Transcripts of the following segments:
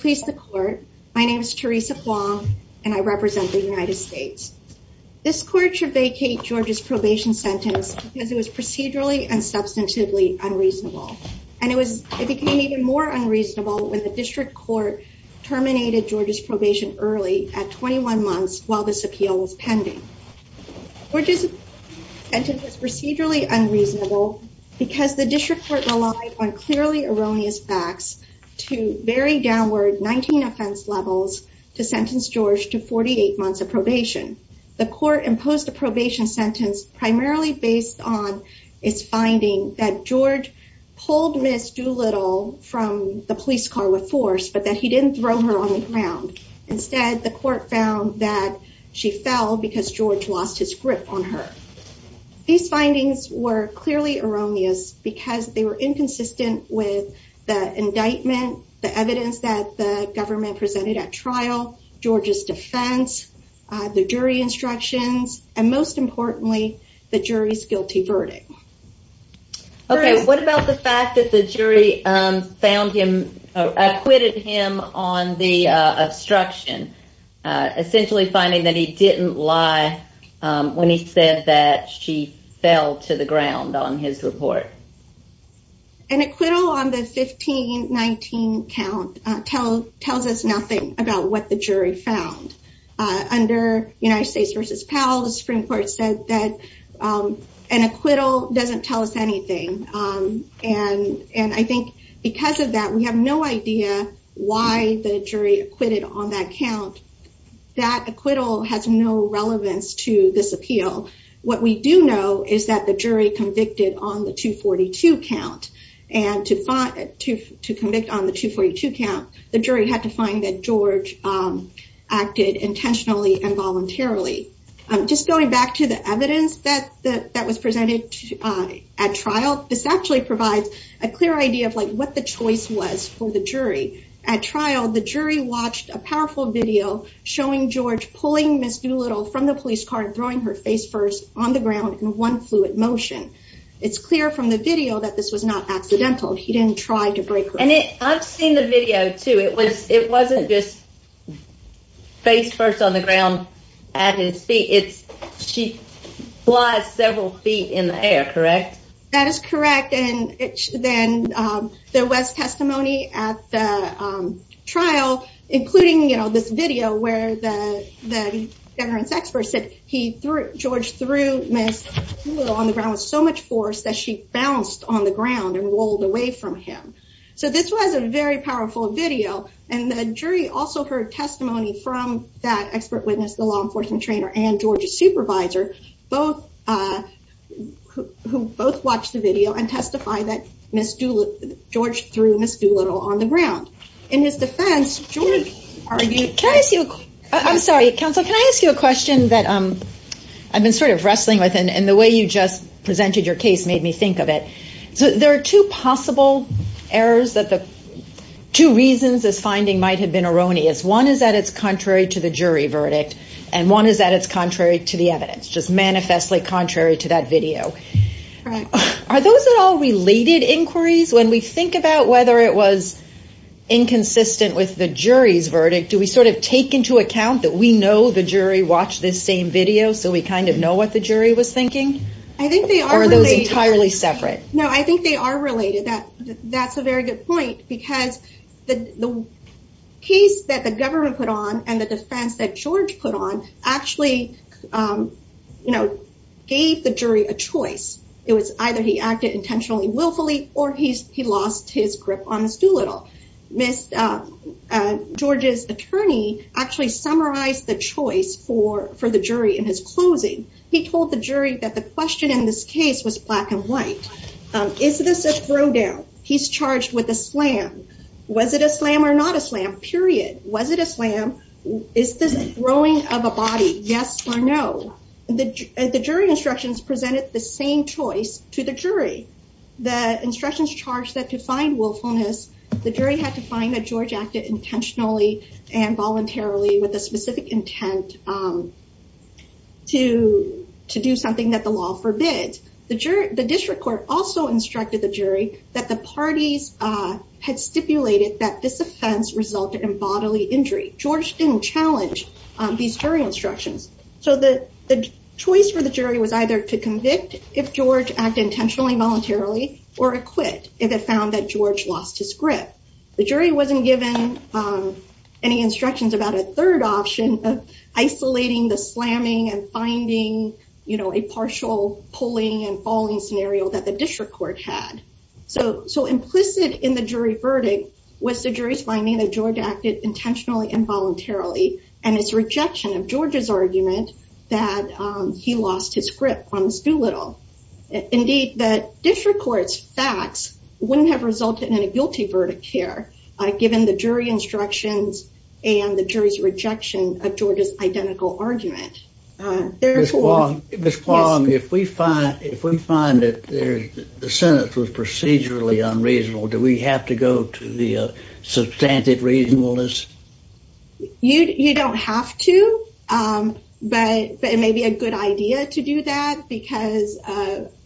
Please the court. My name is Teresa Wong, and I represent the United States. This court should vacate George's probation sentence because it was procedurally and substantively unreasonable. And it was it became even more unreasonable when the district court terminated George's probation early at 21 months while this appeal was pending. We're just entered this procedurally unreasonable because the district court relied on clearly erroneous facts to very downward 19 offense levels to sentence George to 48 months of probation. The court imposed a probation sentence primarily based on its finding that George pulled Miss Doolittle from the police car with force but that he didn't throw her on the ground. Instead, the court found that she fell because George lost his grip on her. These findings were inconsistent with the indictment, the evidence that the government presented at trial, George's defense, the jury instructions, and most importantly, the jury's guilty verdict. Okay, what about the fact that the jury found him acquitted him on the obstruction, essentially finding that he didn't lie? When he said that she fell to the ground on his report? An acquittal on the 1519 count tell tells us nothing about what the jury found. Under United States versus Powell, the Supreme Court said that an acquittal doesn't tell us anything. And and I think because of that, we have no idea why the jury acquitted on that count. That acquittal has no relevance to this appeal. What we do know is that the jury convicted on the 242 count and to fight to to commit on the 242 count, the jury had to find that George acted intentionally and voluntarily. I'm just going back to the evidence that that was presented at trial. This actually provides a clear idea of like what the choice was for the jury. At trial, the jury watched a powerful video showing George pulling Miss Doolittle from the police car and throwing her face first on the ground in one fluid motion. It's clear from the video that this was not accidental. He didn't try to break and I've seen the video too. It was it wasn't just face first on the ground at his feet. It's she flies several feet in the air, correct? That is correct. And then there was testimony at the trial, including, you know, this video where the the veterans expert said he threw George through Miss Doolittle on the ground with so much force that she bounced on the ground and rolled away from him. So this was a very powerful video. And the jury also heard testimony from that expert witness, the law enforcement trainer and Georgia supervisor, both who both watched the video and testify that Miss Doolittle, George threw Miss Doolittle on the ground. In his defense, George argued, can I ask you? I'm sorry, counsel, can I ask you a question that I've been sort of wrestling with and the way you just presented your case made me think of it. So there are two possible errors that the two reasons this finding might have been erroneous. One is that it's contrary to the jury verdict and one is that it's contrary to the evidence, just manifestly contrary to that video. Are those all related inquiries when we think about whether it was inconsistent with the jury's verdict? Do we sort of take into account that we know the jury watched this same video so we kind of know what the jury was thinking? I think they are entirely separate. No, I think they are related. That's a very good point because the case that the government put on and the defense that George put on actually gave the jury a choice. It was either he acted intentionally willfully or he lost his grip on Miss Doolittle. Miss George's attorney actually summarized the choice for the jury in his closing. He told the jury that the question in this case was black and white. Is this a throw down? He's charged with a slam. Was it a slam or not a slam? Period. Was it a slam? Is this throwing of a body? Yes or no? The jury instructions presented the same choice to the jury. The instructions charged that to find willfulness, the jury had to find that George acted intentionally and voluntarily with a specific intent to do something that the law forbids. The district court also instructed the jury that the parties had stipulated that this offense resulted in bodily injury. George didn't challenge these jury instructions. So the choice for the jury was either to convict if George acted intentionally voluntarily or acquit if it found that George lost his grip. The jury wasn't given any instructions about a third option of isolating the slamming and finding, you know, a partial pulling and falling scenario that the district court had. So implicit in the jury verdict was the jury's finding that George acted intentionally and voluntarily and his rejection of George's argument that he lost his grip on Miss Doolittle. Indeed, the district court's facts wouldn't have resulted in a guilty verdict here, given the jury instructions and the jury's rejection of George's identical argument. Therefore, Miss Quam, if we find that the sentence was procedurally unreasonable, do we have to go to the substantive reasonableness? You don't have to. But it may be a good idea to do that because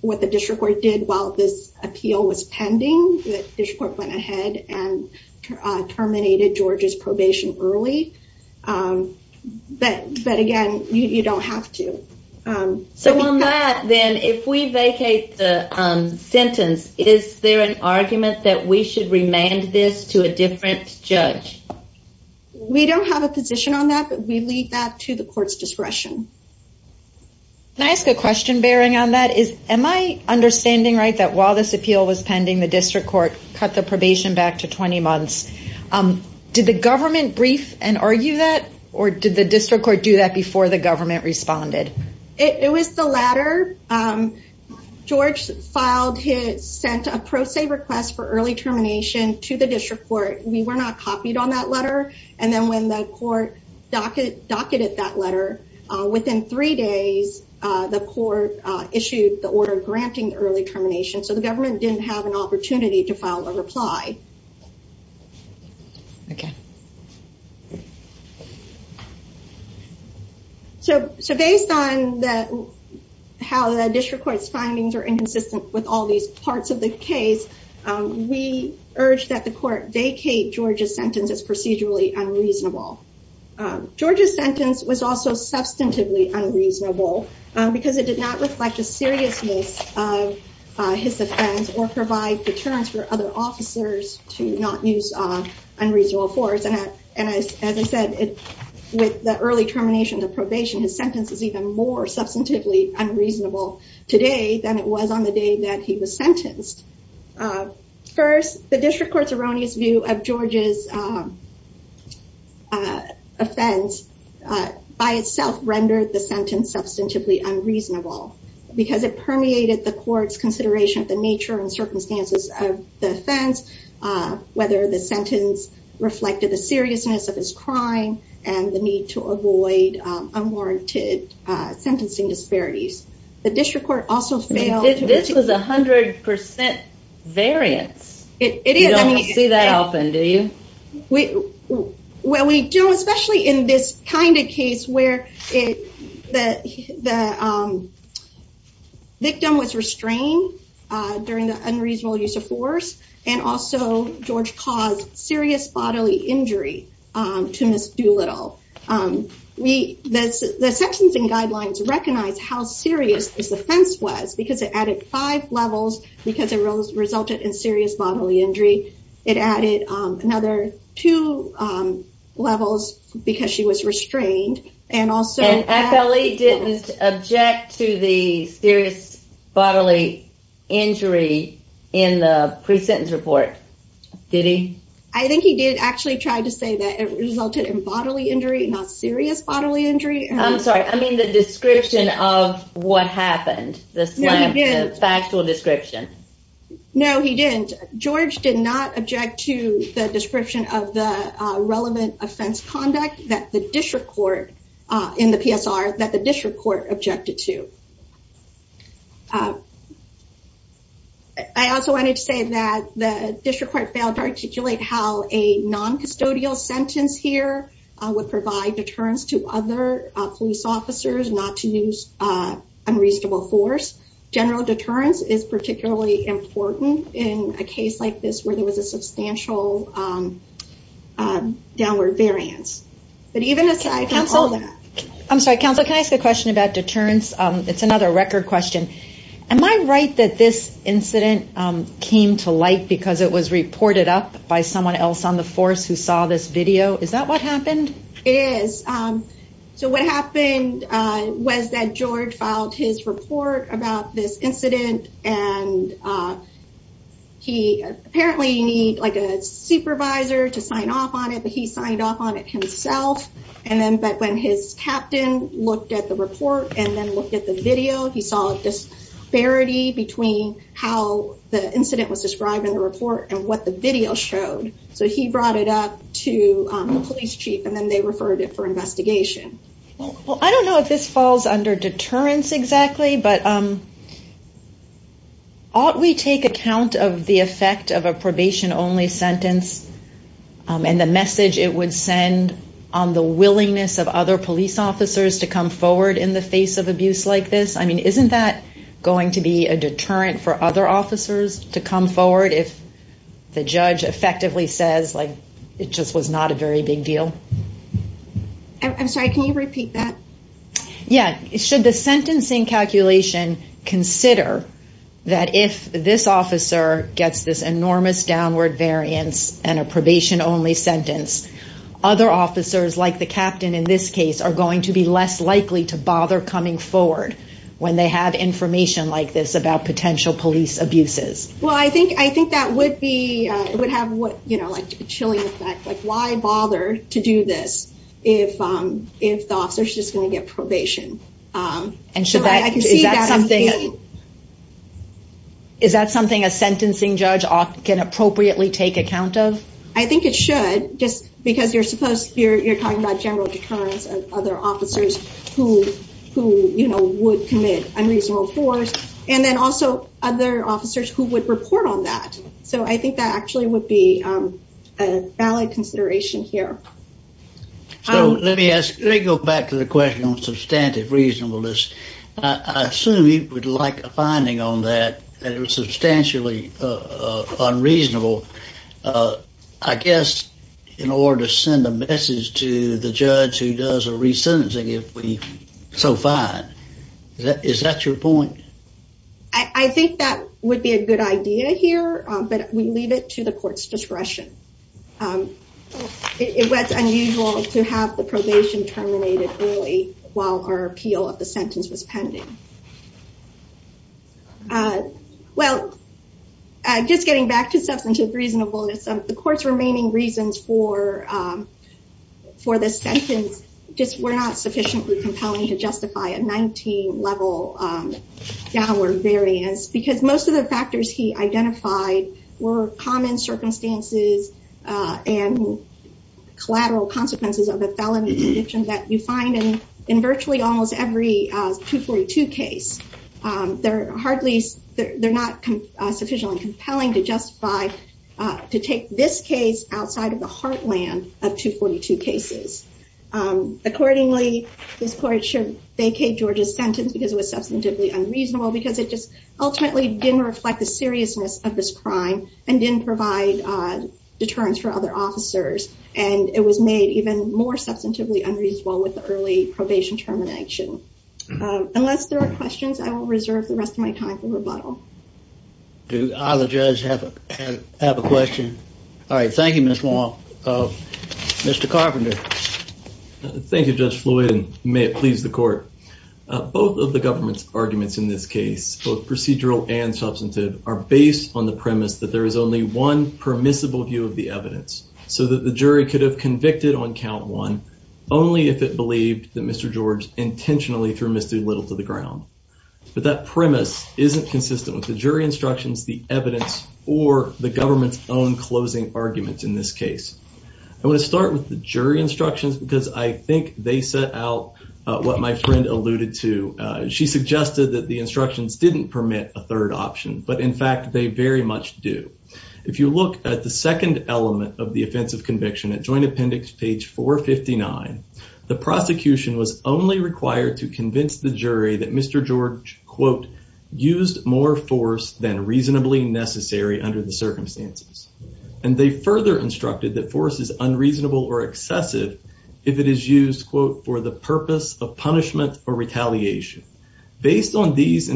what the district court did while this appeal was pending, the district court went ahead and terminated George's probation early. But again, you don't have to. So on that then, if we vacate the sentence, is there an argument that we should remand this to a different judge? We don't have a position on that, but we leave that to the court's discretion. Can I ask a question bearing on that is, am I understanding right that while this appeal was pending, the district court cut the probation back to 20 months? Did the government brief and argue that? Or did the district court do that before the government responded? It was the latter. George filed his sent a pro se request for early termination to the district court. We were not docketed that letter. Within three days, the court issued the order granting early termination. So the government didn't have an opportunity to file a reply. So based on how the district court's findings are inconsistent with all these parts of the case, we urge that the George's sentence was also substantively unreasonable, because it did not reflect the seriousness of his offense or provide deterrence for other officers to not use unreasonable force. And as I said, with the early termination of probation, his sentence is even more substantively unreasonable today than it was on the day that he was by itself rendered the sentence substantively unreasonable, because it permeated the court's consideration of the nature and circumstances of the offense, whether the sentence reflected the seriousness of his crime, and the need to avoid unwarranted sentencing disparities. The district court also failed... This was 100% variance. You don't see that often, do you? Well, we do, especially in this kind of case where the victim was restrained during the unreasonable use of force, and also George caused serious bodily injury to Ms. Doolittle. The sentencing guidelines recognize how serious this offense was, because it added five levels, because it resulted in serious bodily injury. It added another two levels, because she was restrained, and also... And FLE didn't object to the serious bodily injury in the pre-sentence report, did he? I think he did actually try to say that it resulted in bodily injury, not serious bodily injury. I'm sorry, I mean the description of what happened, the factual description. No, he didn't. George did not object to the description of the relevant offense conduct that the district court, in the PSR, that the district court objected to. I also wanted to say that the district court failed to articulate how a non-custodial sentence here would provide deterrence to other police officers not to use unreasonable force. General deterrence is particularly important in a case like this, where there was a substantial downward variance. But even aside from all that... I'm sorry, counsel, can I ask a question about deterrence? It's another record question. Am I right that this incident came to light because it was reported up by someone else on the force who saw this video? Is that what happened? It is. So what happened was that George filed his report about this incident, and he apparently needed a supervisor to sign off on it, but he signed off on it himself. And then when his captain looked at the report and then looked at the video, he saw a disparity between how the incident was described in the report and what the video showed. So he brought it up to the police chief and then they referred it for investigation. Well, I don't know if this falls under deterrence exactly, but ought we take account of the effect of a probation-only sentence and the message it would send on the willingness of other police officers to come forward in the face of abuse like this? I mean, isn't that going to be a deterrent for other officers to come forward if the judge effectively says, like, it just was not a very big deal? I'm sorry, can you repeat that? Yeah. Should the sentencing calculation consider that if this officer gets this enormous downward variance and a probation-only sentence, other officers like the captain in this case are going to be less likely to bother coming forward when they have information like this about potential police abuses? Well, I think that would have a chilling effect. Like, why bother to do this if the officer is just going to get probation? Is that something a sentencing judge can appropriately take account of? I think it should, just because you're talking about general deterrence of other officers who would commit unreasonable force, and then also other officers who would report on that. So I think that actually would be a valid consideration here. So let me ask, let me go back to the question on substantive reasonableness. I assume you would like a finding on that, that it was substantially unreasonable. I guess, in order to send a message to the judge who does a resentencing, if we so find, is that your point? I think that would be a good idea here, but we leave it to the court's discretion. It was unusual to have the probation terminated early while our appeal of the sentence was pending. Well, just getting back to substantive reasonableness, the court's remaining reasons for this sentence just were not sufficiently compelling to justify a 19-level downward variance, because most of the factors he identified were common circumstances and collateral consequences of a felony conviction that you find in virtually almost every 242 case. They're hardly, they're not sufficiently compelling to justify, to take this case outside of the heartland of 242 cases. Accordingly, this court should vacate George's sentence because it was substantively unreasonable, because it just ultimately didn't reflect the seriousness of this crime and didn't provide deterrence for other officers, and it was made even more substantively unreasonable with the probation termination. Unless there are questions, I will reserve the rest of my time for rebuttal. Do either judge have a question? All right, thank you, Ms. Wong. Mr. Carpenter. Thank you, Judge Floyd, and may it please the court. Both of the government's arguments in this case, both procedural and substantive, are based on the premise that there is only one permissible view of the evidence, so that the jury could have convicted on count one only if it believed that Mr. George intentionally threw Mr. Little to the ground. But that premise isn't consistent with the jury instructions, the evidence, or the government's own closing arguments in this case. I want to start with the jury instructions because I think they set out what my friend alluded to. She suggested that the instructions didn't permit a third option, but in fact they very much do. If you look at the second element of the offense of conviction at Joint Appendix page 459, the prosecution was only required to convince the jury that Mr. George, quote, used more force than reasonably necessary under the circumstances. And they further instructed that force is unreasonable or excessive if it is used, quote, for the purpose of punishment or retaliation. Based on these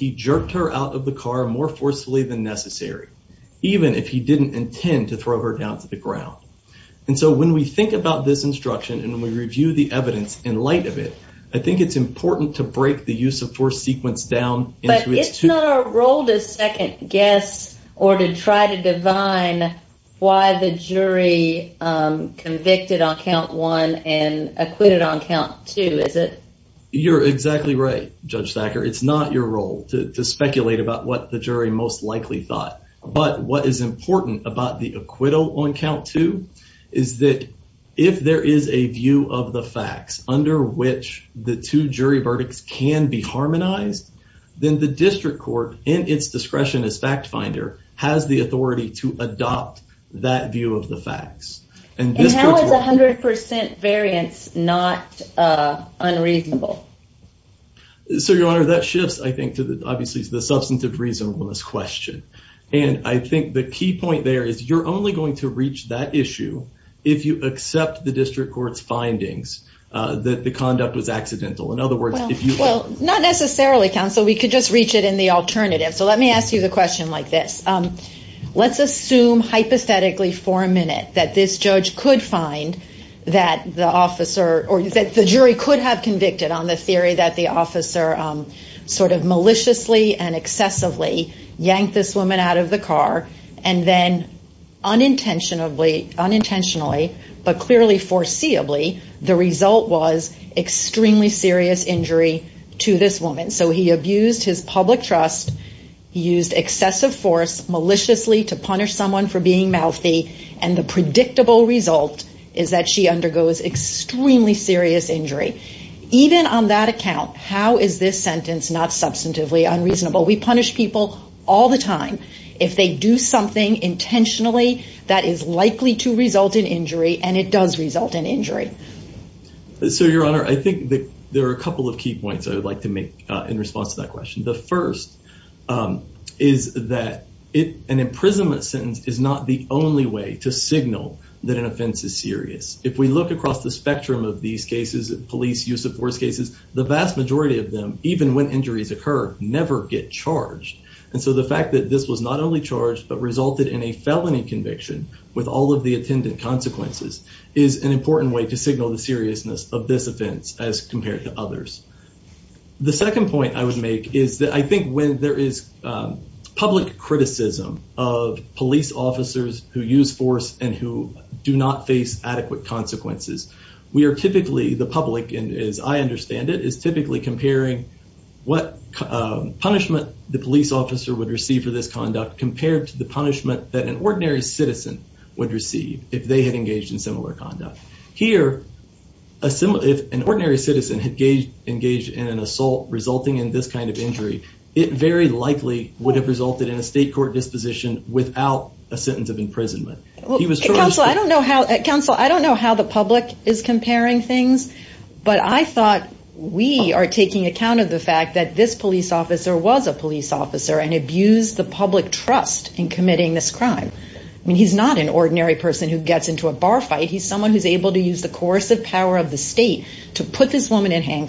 he jerked her out of the car more forcefully than necessary, even if he didn't intend to throw her down to the ground. And so when we think about this instruction and we review the evidence in light of it, I think it's important to break the use of force sequence down. But it's not our role to second guess or to try to divine why the jury convicted on count one and acquitted on count two, is it? You're exactly right, Judge Thacker. It's not your role to speculate about what the jury most likely thought. But what is important about the acquittal on count two is that if there is a view of the facts under which the two jury verdicts can be harmonized, then the district court in its discretion as fact finder has the authority to adopt that view of the facts. And unreasonable. So, Your Honor, that shifts, I think, to obviously the substantive reasonableness question. And I think the key point there is you're only going to reach that issue if you accept the district court's findings that the conduct was accidental. In other words, if you well, not necessarily, counsel, we could just reach it in the alternative. So let me ask you the question like this. Let's assume hypothetically for a minute that this judge could find that the jury could have convicted on the theory that the officer sort of maliciously and excessively yanked this woman out of the car and then unintentionally, but clearly foreseeably, the result was extremely serious injury to this woman. So he abused his public trust, used excessive force maliciously to punish someone for being mouthy, and the predictable result is she undergoes extremely serious injury. Even on that account, how is this sentence not substantively unreasonable? We punish people all the time if they do something intentionally that is likely to result in injury, and it does result in injury. So, Your Honor, I think there are a couple of key points I would like to make in response to that question. The first is that an imprisonment sentence is not the only way to signal that an offense is serious. If we look across the spectrum of these cases, police use of force cases, the vast majority of them, even when injuries occur, never get charged. And so the fact that this was not only charged but resulted in a felony conviction with all of the attendant consequences is an important way to signal the seriousness of this offense as compared to others. The second point I would make is that I of police officers who use force and who do not face adequate consequences. We are typically, the public, as I understand it, is typically comparing what punishment the police officer would receive for this conduct compared to the punishment that an ordinary citizen would receive if they had engaged in similar conduct. Here, if an ordinary citizen had engaged in an assault resulting in this kind of injury, it very likely would have resulted in a state court disposition without a sentence of imprisonment. Counsel, I don't know how the public is comparing things, but I thought we are taking account of the fact that this police officer was a police officer and abused the public trust in committing this crime. I mean, he's not an ordinary person who gets into a bar fight. He's someone who's able to use the coercive power of the state to put this woman in then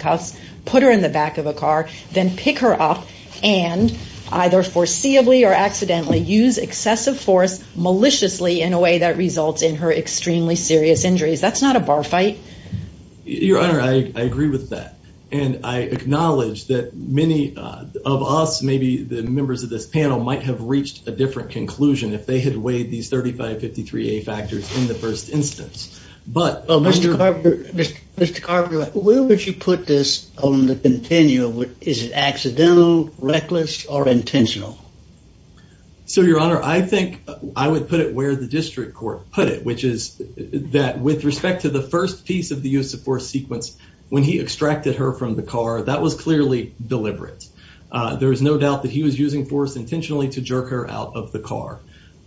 pick her up and either foreseeably or accidentally use excessive force maliciously in a way that results in her extremely serious injuries. That's not a bar fight. Your Honor, I agree with that and I acknowledge that many of us, maybe the members of this panel, might have reached a different conclusion if they had weighed these 3553A factors in the first instance. Mr. Carpenter, where would you put this on the continuum? Is it accidental, reckless, or intentional? So, Your Honor, I think I would put it where the district court put it, which is that with respect to the first piece of the use of force sequence, when he extracted her from the car, that was clearly deliberate. There is no doubt that he was using force intentionally to jerk her out of the car.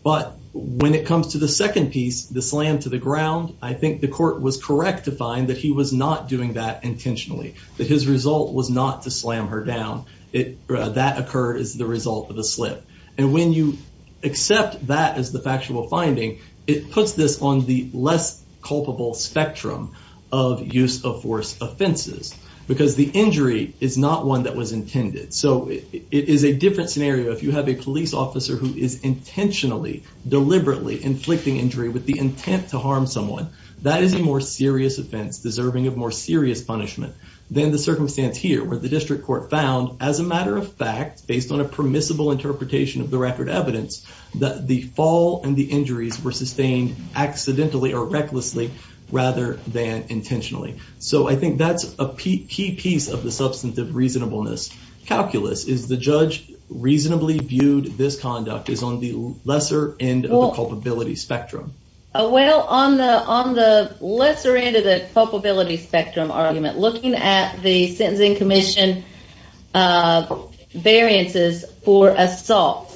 But when it comes to the second piece, the slam to the ground, I think the court was correct to find that he was not doing that intentionally, that his result was not to slam her down. That occurred as the result of the slip. And when you accept that as the factual finding, it puts this on the less culpable spectrum of use of force offenses because the officer who is intentionally, deliberately inflicting injury with the intent to harm someone, that is a more serious offense deserving of more serious punishment than the circumstance here, where the district court found, as a matter of fact, based on a permissible interpretation of the record evidence, that the fall and the injuries were sustained accidentally or recklessly rather than intentionally. So, I think that's a key piece of the substantive reasonableness calculus, is the judge reasonably viewed this conduct as on the lesser end of the culpability spectrum. Well, on the lesser end of the culpability spectrum argument, looking at the Sentencing Commission variances for assaults,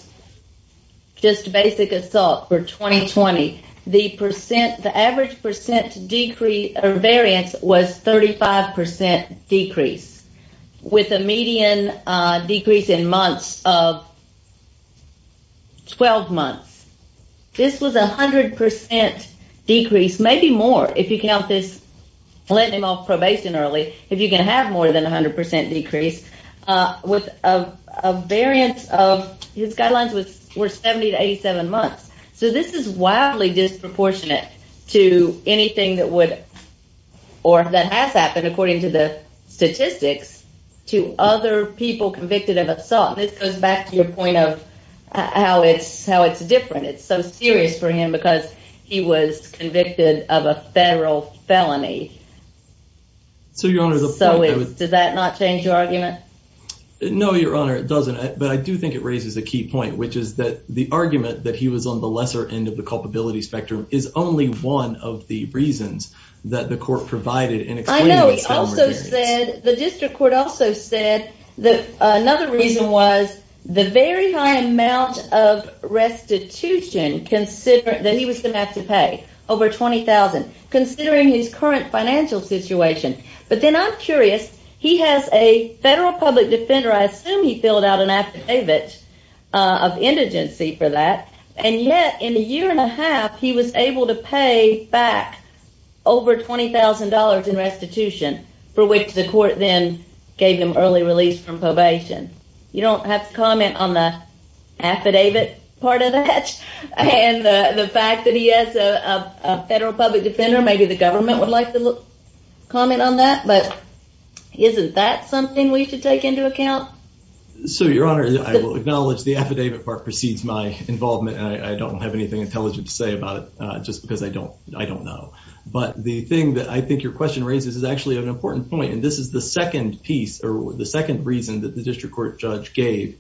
just basic assault for 2020, the average percent decrease or variance was 35% decrease, with a median decrease in months of 12 months. This was a 100% decrease, maybe more if you count this lenient off probation early, if you can have more than 100% decrease, with a variance of, his guidelines were 70 to 87 months. So, this is wildly disproportionate to anything that would or that has happened, according to the statistics, to other people convicted of assault. This goes back to your point of how it's different. It's so serious for him because he was convicted of a federal felony. So, your honor, does that not change your argument? No, your honor, it doesn't. But I think it raises a key point, which is that the argument that he was on the lesser end of the culpability spectrum is only one of the reasons that the court provided. The district court also said that another reason was the very high amount of restitution that he was going to have to pay, over $20,000, considering his current financial situation. But then I'm of indigency for that. And yet, in a year and a half, he was able to pay back over $20,000 in restitution, for which the court then gave him early release from probation. You don't have to comment on the affidavit part of that. And the fact that he has a federal public defender, maybe the government would like to comment on that. But isn't that something we should take into account? So, your honor, I will acknowledge the affidavit part precedes my involvement. And I don't have anything intelligent to say about it, just because I don't know. But the thing that I think your question raises is actually an important point. And this is the second piece, or the second reason that the district court judge gave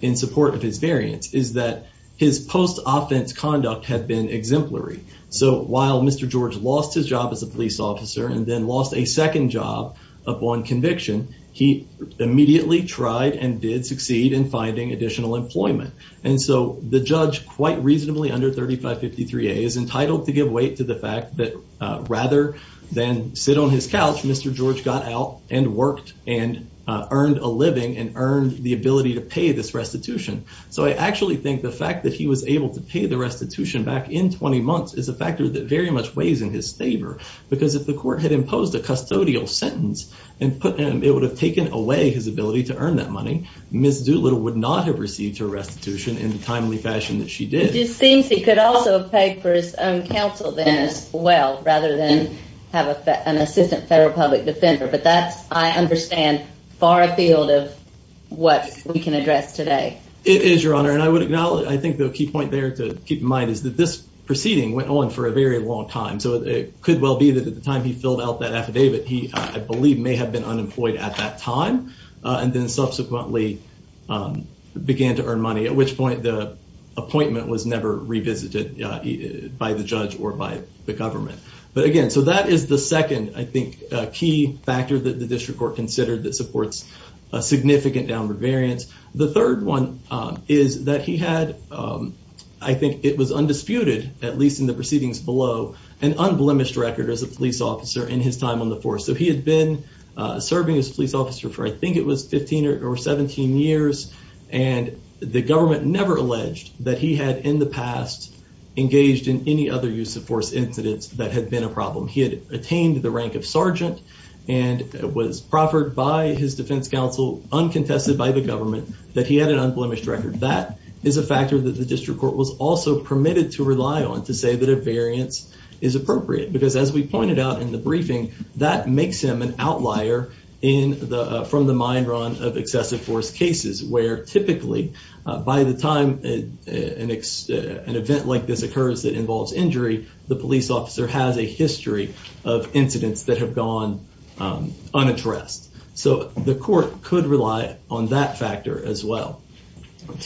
in support of his variance, is that his post-offense conduct had been exemplary. So, while Mr. George lost his job as a police officer and then lost a second job upon conviction, he immediately tried and did succeed in finding additional employment. And so, the judge, quite reasonably under 3553A, is entitled to give weight to the fact that rather than sit on his couch, Mr. George got out and worked and earned a living and earned the ability to pay this restitution. So, I actually think the fact that he was able to pay the restitution back in 20 months is a factor that very much weighs in his favor. Because if the court had imposed a custodial sentence and put him, it would have taken away his ability to earn that money, Ms. Doolittle would not have received her restitution in the timely fashion that she did. It just seems he could also have paid for his own counsel then as well, rather than have an assistant federal public defender. But that's, I understand, far afield of what we can address today. It is, your honor. And I would acknowledge, I think the key point there to keep in mind is that this proceeding went on for a very long time. So, it could well be that at the time he filled out that affidavit, he, I believe, may have been unemployed at that time and then subsequently began to earn money. At which point the appointment was never revisited by the judge or by the government. But again, so that is the second, I think, key factor that the district court considered that supports a significant downward variance. The third one is that he had, I think it was So, he had been serving as a police officer for, I think it was 15 or 17 years, and the government never alleged that he had in the past engaged in any other use of force incidents that had been a problem. He had attained the rank of sergeant and was proffered by his defense counsel, uncontested by the government, that he had an unblemished record. That is a factor that the district court was also permitted to rely on to say that a variance is appropriate. Because as we pointed out in the briefing, that makes him an outlier from the mind run of excessive force cases where typically by the time an event like this occurs that involves injury, the police officer has a history of incidents that have gone unaddressed. So, the court could rely on that factor as well.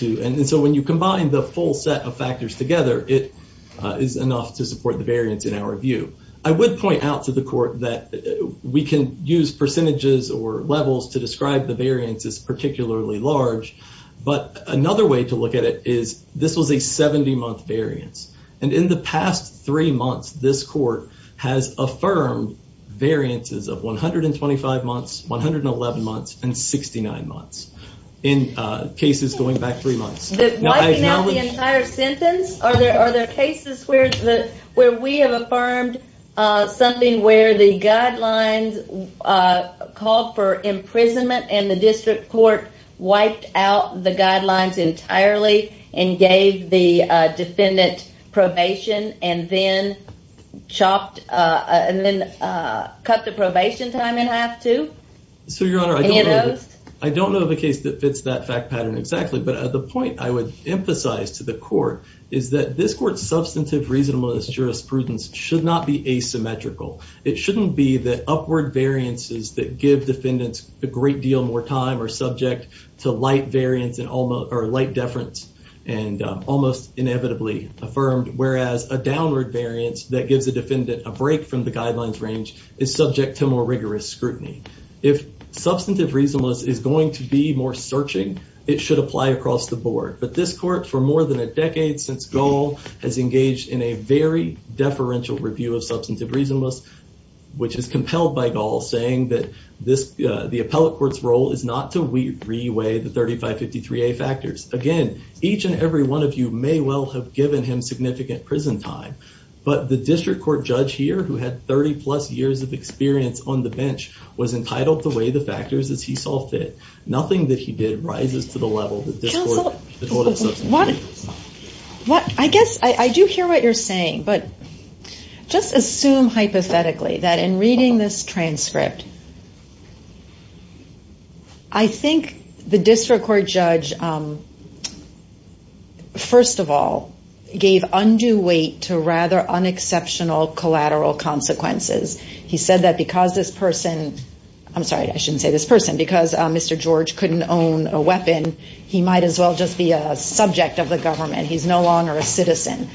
And so, when you combine the full set of factors together, it is enough to support the variance in our view. I would point out to the court that we can use percentages or levels to describe the variance as particularly large, but another way to look at it is this was a 70-month variance. And in the past three months, this court has affirmed variances of 125 months, 111 months, and 69 months in cases going back three months. Wiping out the entire sentence? Are there are we have affirmed something where the guidelines called for imprisonment and the district court wiped out the guidelines entirely and gave the defendant probation and then chopped and then cut the probation time in half too? So, your honor, I don't know of a case that fits that fact pattern exactly, but the point I would emphasize to the court is that this court's should not be asymmetrical. It shouldn't be that upward variances that give defendants a great deal more time are subject to light variance and almost or light deference and almost inevitably affirmed, whereas a downward variance that gives a defendant a break from the guidelines range is subject to more rigorous scrutiny. If substantive reasonableness is going to be more searching, it should apply across the board. But this court for more than a decade since has engaged in a very deferential review of substantive reasonableness, which is compelled by Gaul saying that the appellate court's role is not to re-weigh the 3553A factors. Again, each and every one of you may well have given him significant prison time, but the district court judge here who had 30 plus years of experience on the bench was entitled to weigh the factors as he did. Nothing that he did rises to the level that the court of substantive reasonableness. I guess I do hear what you're saying, but just assume hypothetically that in reading this transcript, I think the district court judge, first of all, gave undue weight to rather unexceptional collateral consequences. He said that because this person, I'm sorry, I shouldn't say this person, because Mr. George couldn't own a weapon, he might as well just be a subject of the government. He's no longer a citizen.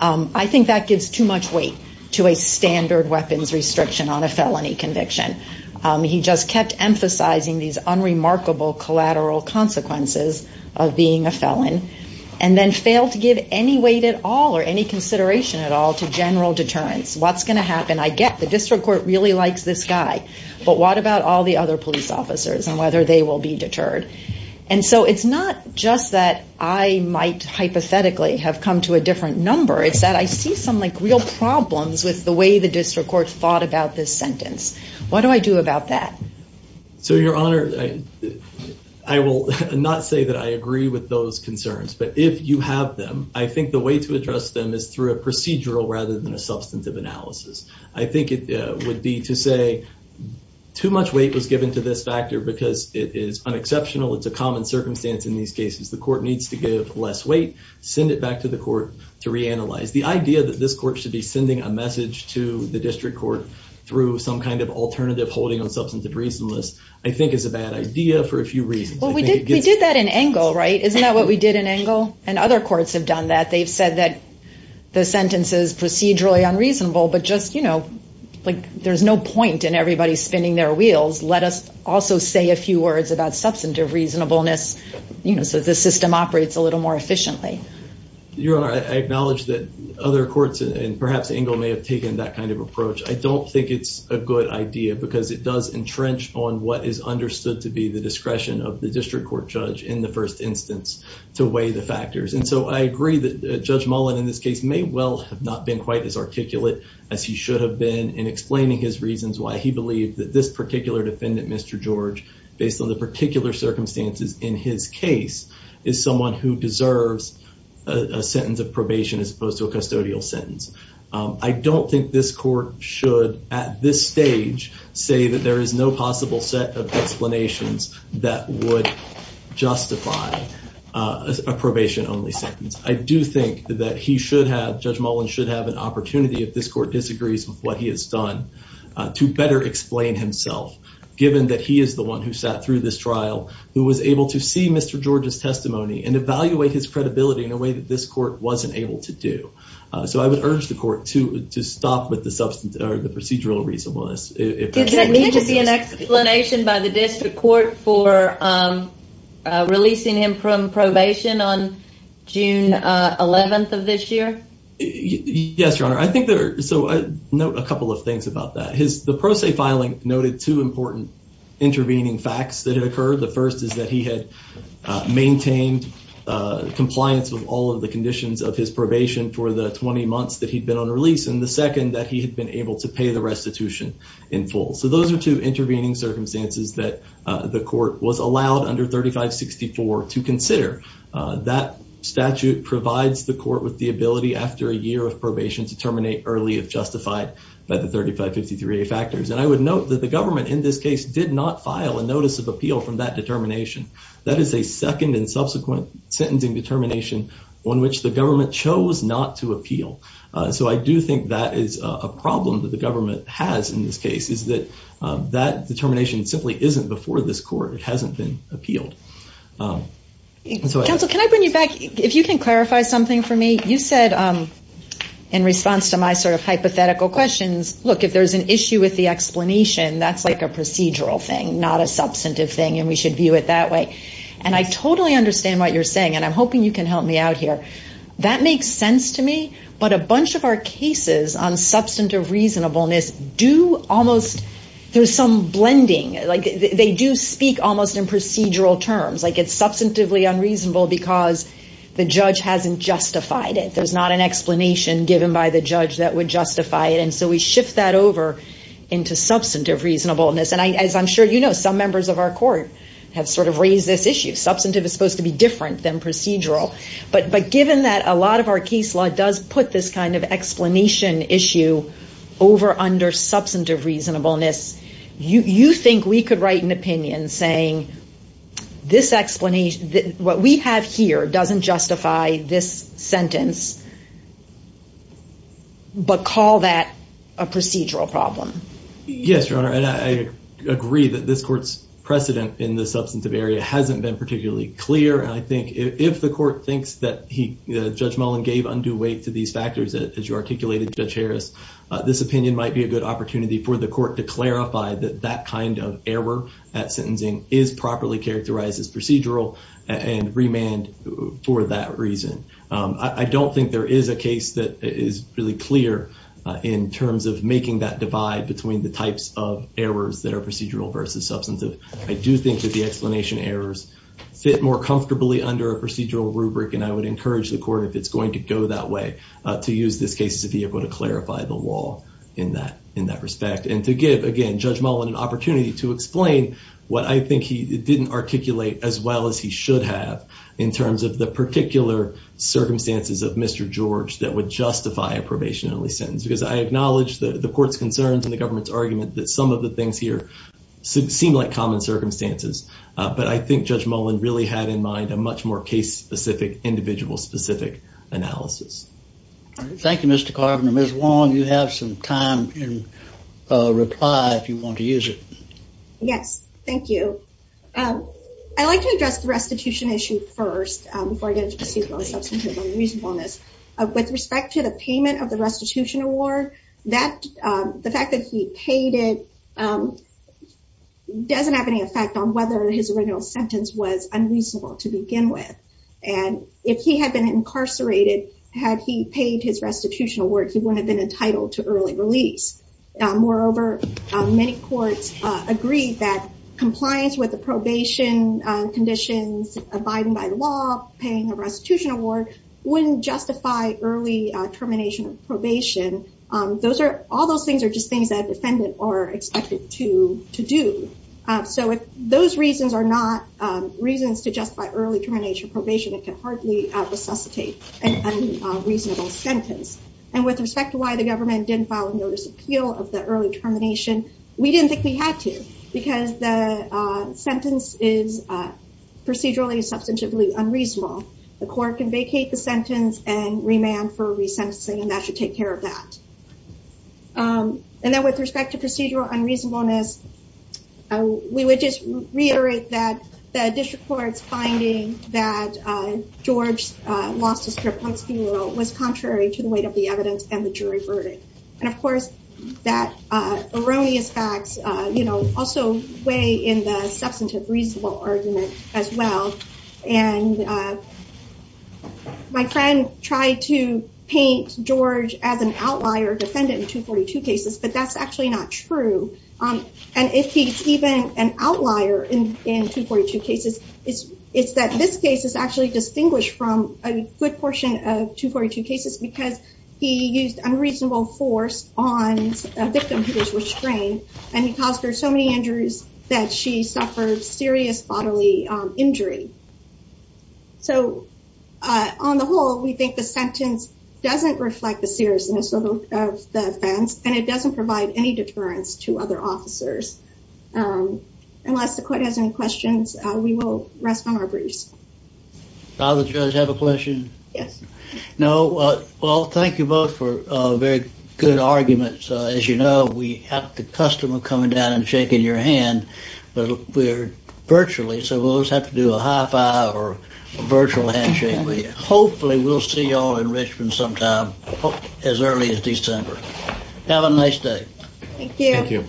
I think that gives too much weight to a standard weapons restriction on a felony conviction. He just kept emphasizing these unremarkable collateral consequences of being a felon and then failed to give any weight at all or any consideration at all to general deterrence. What's going to happen? I get the district court really likes this guy, but what about all the other police officers and whether they will be deterred? And so it's not just that I might hypothetically have come to a different number. It's that I see some like real problems with the way the district court thought about this sentence. What do I do about that? So your honor, I will not say that I agree with those concerns, but if you have them, I think the way to address them is through a procedural rather than a substantive analysis. I think it would be to say too much weight was given to this factor because it is unexceptional. It's a common circumstance in these cases. The court needs to give less weight, send it back to the court to reanalyze. The idea that this court should be sending a message to the district court through some kind of alternative holding on substantive reasonless, I think is a bad idea for a few reasons. Well, we did that in Engle, right? Isn't that what we did in Engle? And other courts have done that. They've said that the sentence is procedurally unreasonable, but just, you know, like there's no point in everybody spinning their wheels. Let us also say a few words about substantive reasonableness, you know, so the system operates a little more efficiently. Your honor, I acknowledge that other courts and perhaps Engle may have taken that kind of approach. I don't think it's a good idea because it does entrench on what is understood to be the I agree that Judge Mullen in this case may well have not been quite as articulate as he should have been in explaining his reasons why he believed that this particular defendant, Mr. George, based on the particular circumstances in his case, is someone who deserves a sentence of probation as opposed to a custodial sentence. I don't think this court should at this stage say that there is no possible set of explanations that would justify a probation only sentence. I do think that he should have, Judge Mullen should have an opportunity if this court disagrees with what he has done to better explain himself, given that he is the one who sat through this trial, who was able to see Mr. George's testimony and evaluate his credibility in a way that this court wasn't able to do. So I would urge the court to stop with the procedural reasonableness. Did there need to be an explanation by the district court for releasing him from probation on June 11th of this year? Yes, your honor. I think there, so I note a couple of things about that. His, the pro se filing noted two important intervening facts that had occurred. The first is that he had maintained compliance with all of the conditions of his probation for the 20 months that he'd been on release and the second that he had been able to pay the restitution in full. So those are two intervening circumstances that the court was allowed under 3564 to consider. That statute provides the court with the ability after a year of probation to terminate early if justified by the 3553a factors. And I would note that the government in this case did not file a notice of appeal from that determination. That is a second and subsequent sentencing determination on which the government chose not to appeal. So I do think that is a problem that the government has in this case is that that determination simply isn't before this court. It hasn't been appealed. Counsel, can I bring you back? If you can clarify something for me, you said in response to my sort of hypothetical questions, look, if there's an issue with the explanation, that's like a procedural thing, not a substantive thing. And we should view it that way. And I totally understand what you're saying. And I'm hoping you can help me out here. That makes sense to me. But a bunch of our cases on substantive reasonableness do almost, there's some blending, like they do speak almost in procedural terms, like it's substantively unreasonable because the judge hasn't justified it. There's not an explanation given by the judge that would justify it. And so we shift that over into substantive reasonableness. And as I'm sure some members of our court have sort of raised this issue. Substantive is supposed to be different than procedural. But given that a lot of our case law does put this kind of explanation issue over under substantive reasonableness, you think we could write an opinion saying what we have here doesn't justify this sentence, but call that a procedural problem? Yes, Your Honor. And I agree that this court's precedent in the substantive area hasn't been particularly clear. And I think if the court thinks that Judge Mullen gave undue weight to these factors, as you articulated, Judge Harris, this opinion might be a good opportunity for the court to clarify that that kind of error at sentencing is properly characterized as procedural and remand for that reason. I don't think there is a case that is really clear in terms of making that divide between the types of errors that are procedural versus substantive. I do think that the explanation errors fit more comfortably under a procedural rubric. And I would encourage the court, if it's going to go that way, to use this case to be able to clarify the law in that respect. And to give, again, Judge Mullen an opportunity to explain what I think he didn't articulate as well as he should have in terms of the particular circumstances of Mr. George that would justify a probationary sentence. Because I acknowledge that the court's concerns and the government's argument that some of the things here seem like common circumstances. But I think Judge Mullen really had in mind a much more case-specific, individual-specific analysis. Thank you, Mr. Carpenter. Ms. Wong, you have some time in reply if you want to use it. Yes, thank you. I'd like to address the restitution issue first before I get into procedural, substantive, and reasonableness. With respect to the payment of the restitution award, the fact that he paid it doesn't have any effect on whether his original sentence was unreasonable to begin with. And if he had been incarcerated, had he paid his restitution award, he wouldn't have been entitled to early release. Moreover, many courts agreed that compliance with the probation conditions abiding by law, paying a restitution award, wouldn't justify early termination of probation. All those things are just things that a defendant are expected to do. So if those reasons are not reasons to justify early termination of probation, it can hardly resuscitate an unreasonable sentence. And with respect to why the government didn't file a notice of appeal of the early termination, we didn't think we had to because the sentence is procedurally, substantively unreasonable. The court can vacate the sentence and remand for resentencing, and that should take care of that. And then with respect to procedural unreasonableness, we would just reiterate that the district court's finding that George lost his trip on his funeral was contrary to the evidence and the jury verdict. And of course, that erroneous facts also weigh in the substantive reasonable argument as well. And my friend tried to paint George as an outlier defendant in 242 cases, but that's actually not true. And if he's even an outlier in 242 cases, it's that this case is actually distinguished from a good portion of 242 cases because he used unreasonable force on a victim who was restrained, and he caused her so many injuries that she suffered serious bodily injury. So on the whole, we think the sentence doesn't reflect the seriousness of the offense, and it doesn't provide any deterrence to other officers. Unless the court has any questions, we will rest on our briefs. Does the judge have a question? Yes. No. Well, thank you both for very good arguments. As you know, we have the custom of coming down and shaking your hand, but we're virtually, so we'll just have to do a high five or a virtual handshake with you. Hopefully we'll see y'all in Richmond sometime as early as December. Have a nice day. Thank you.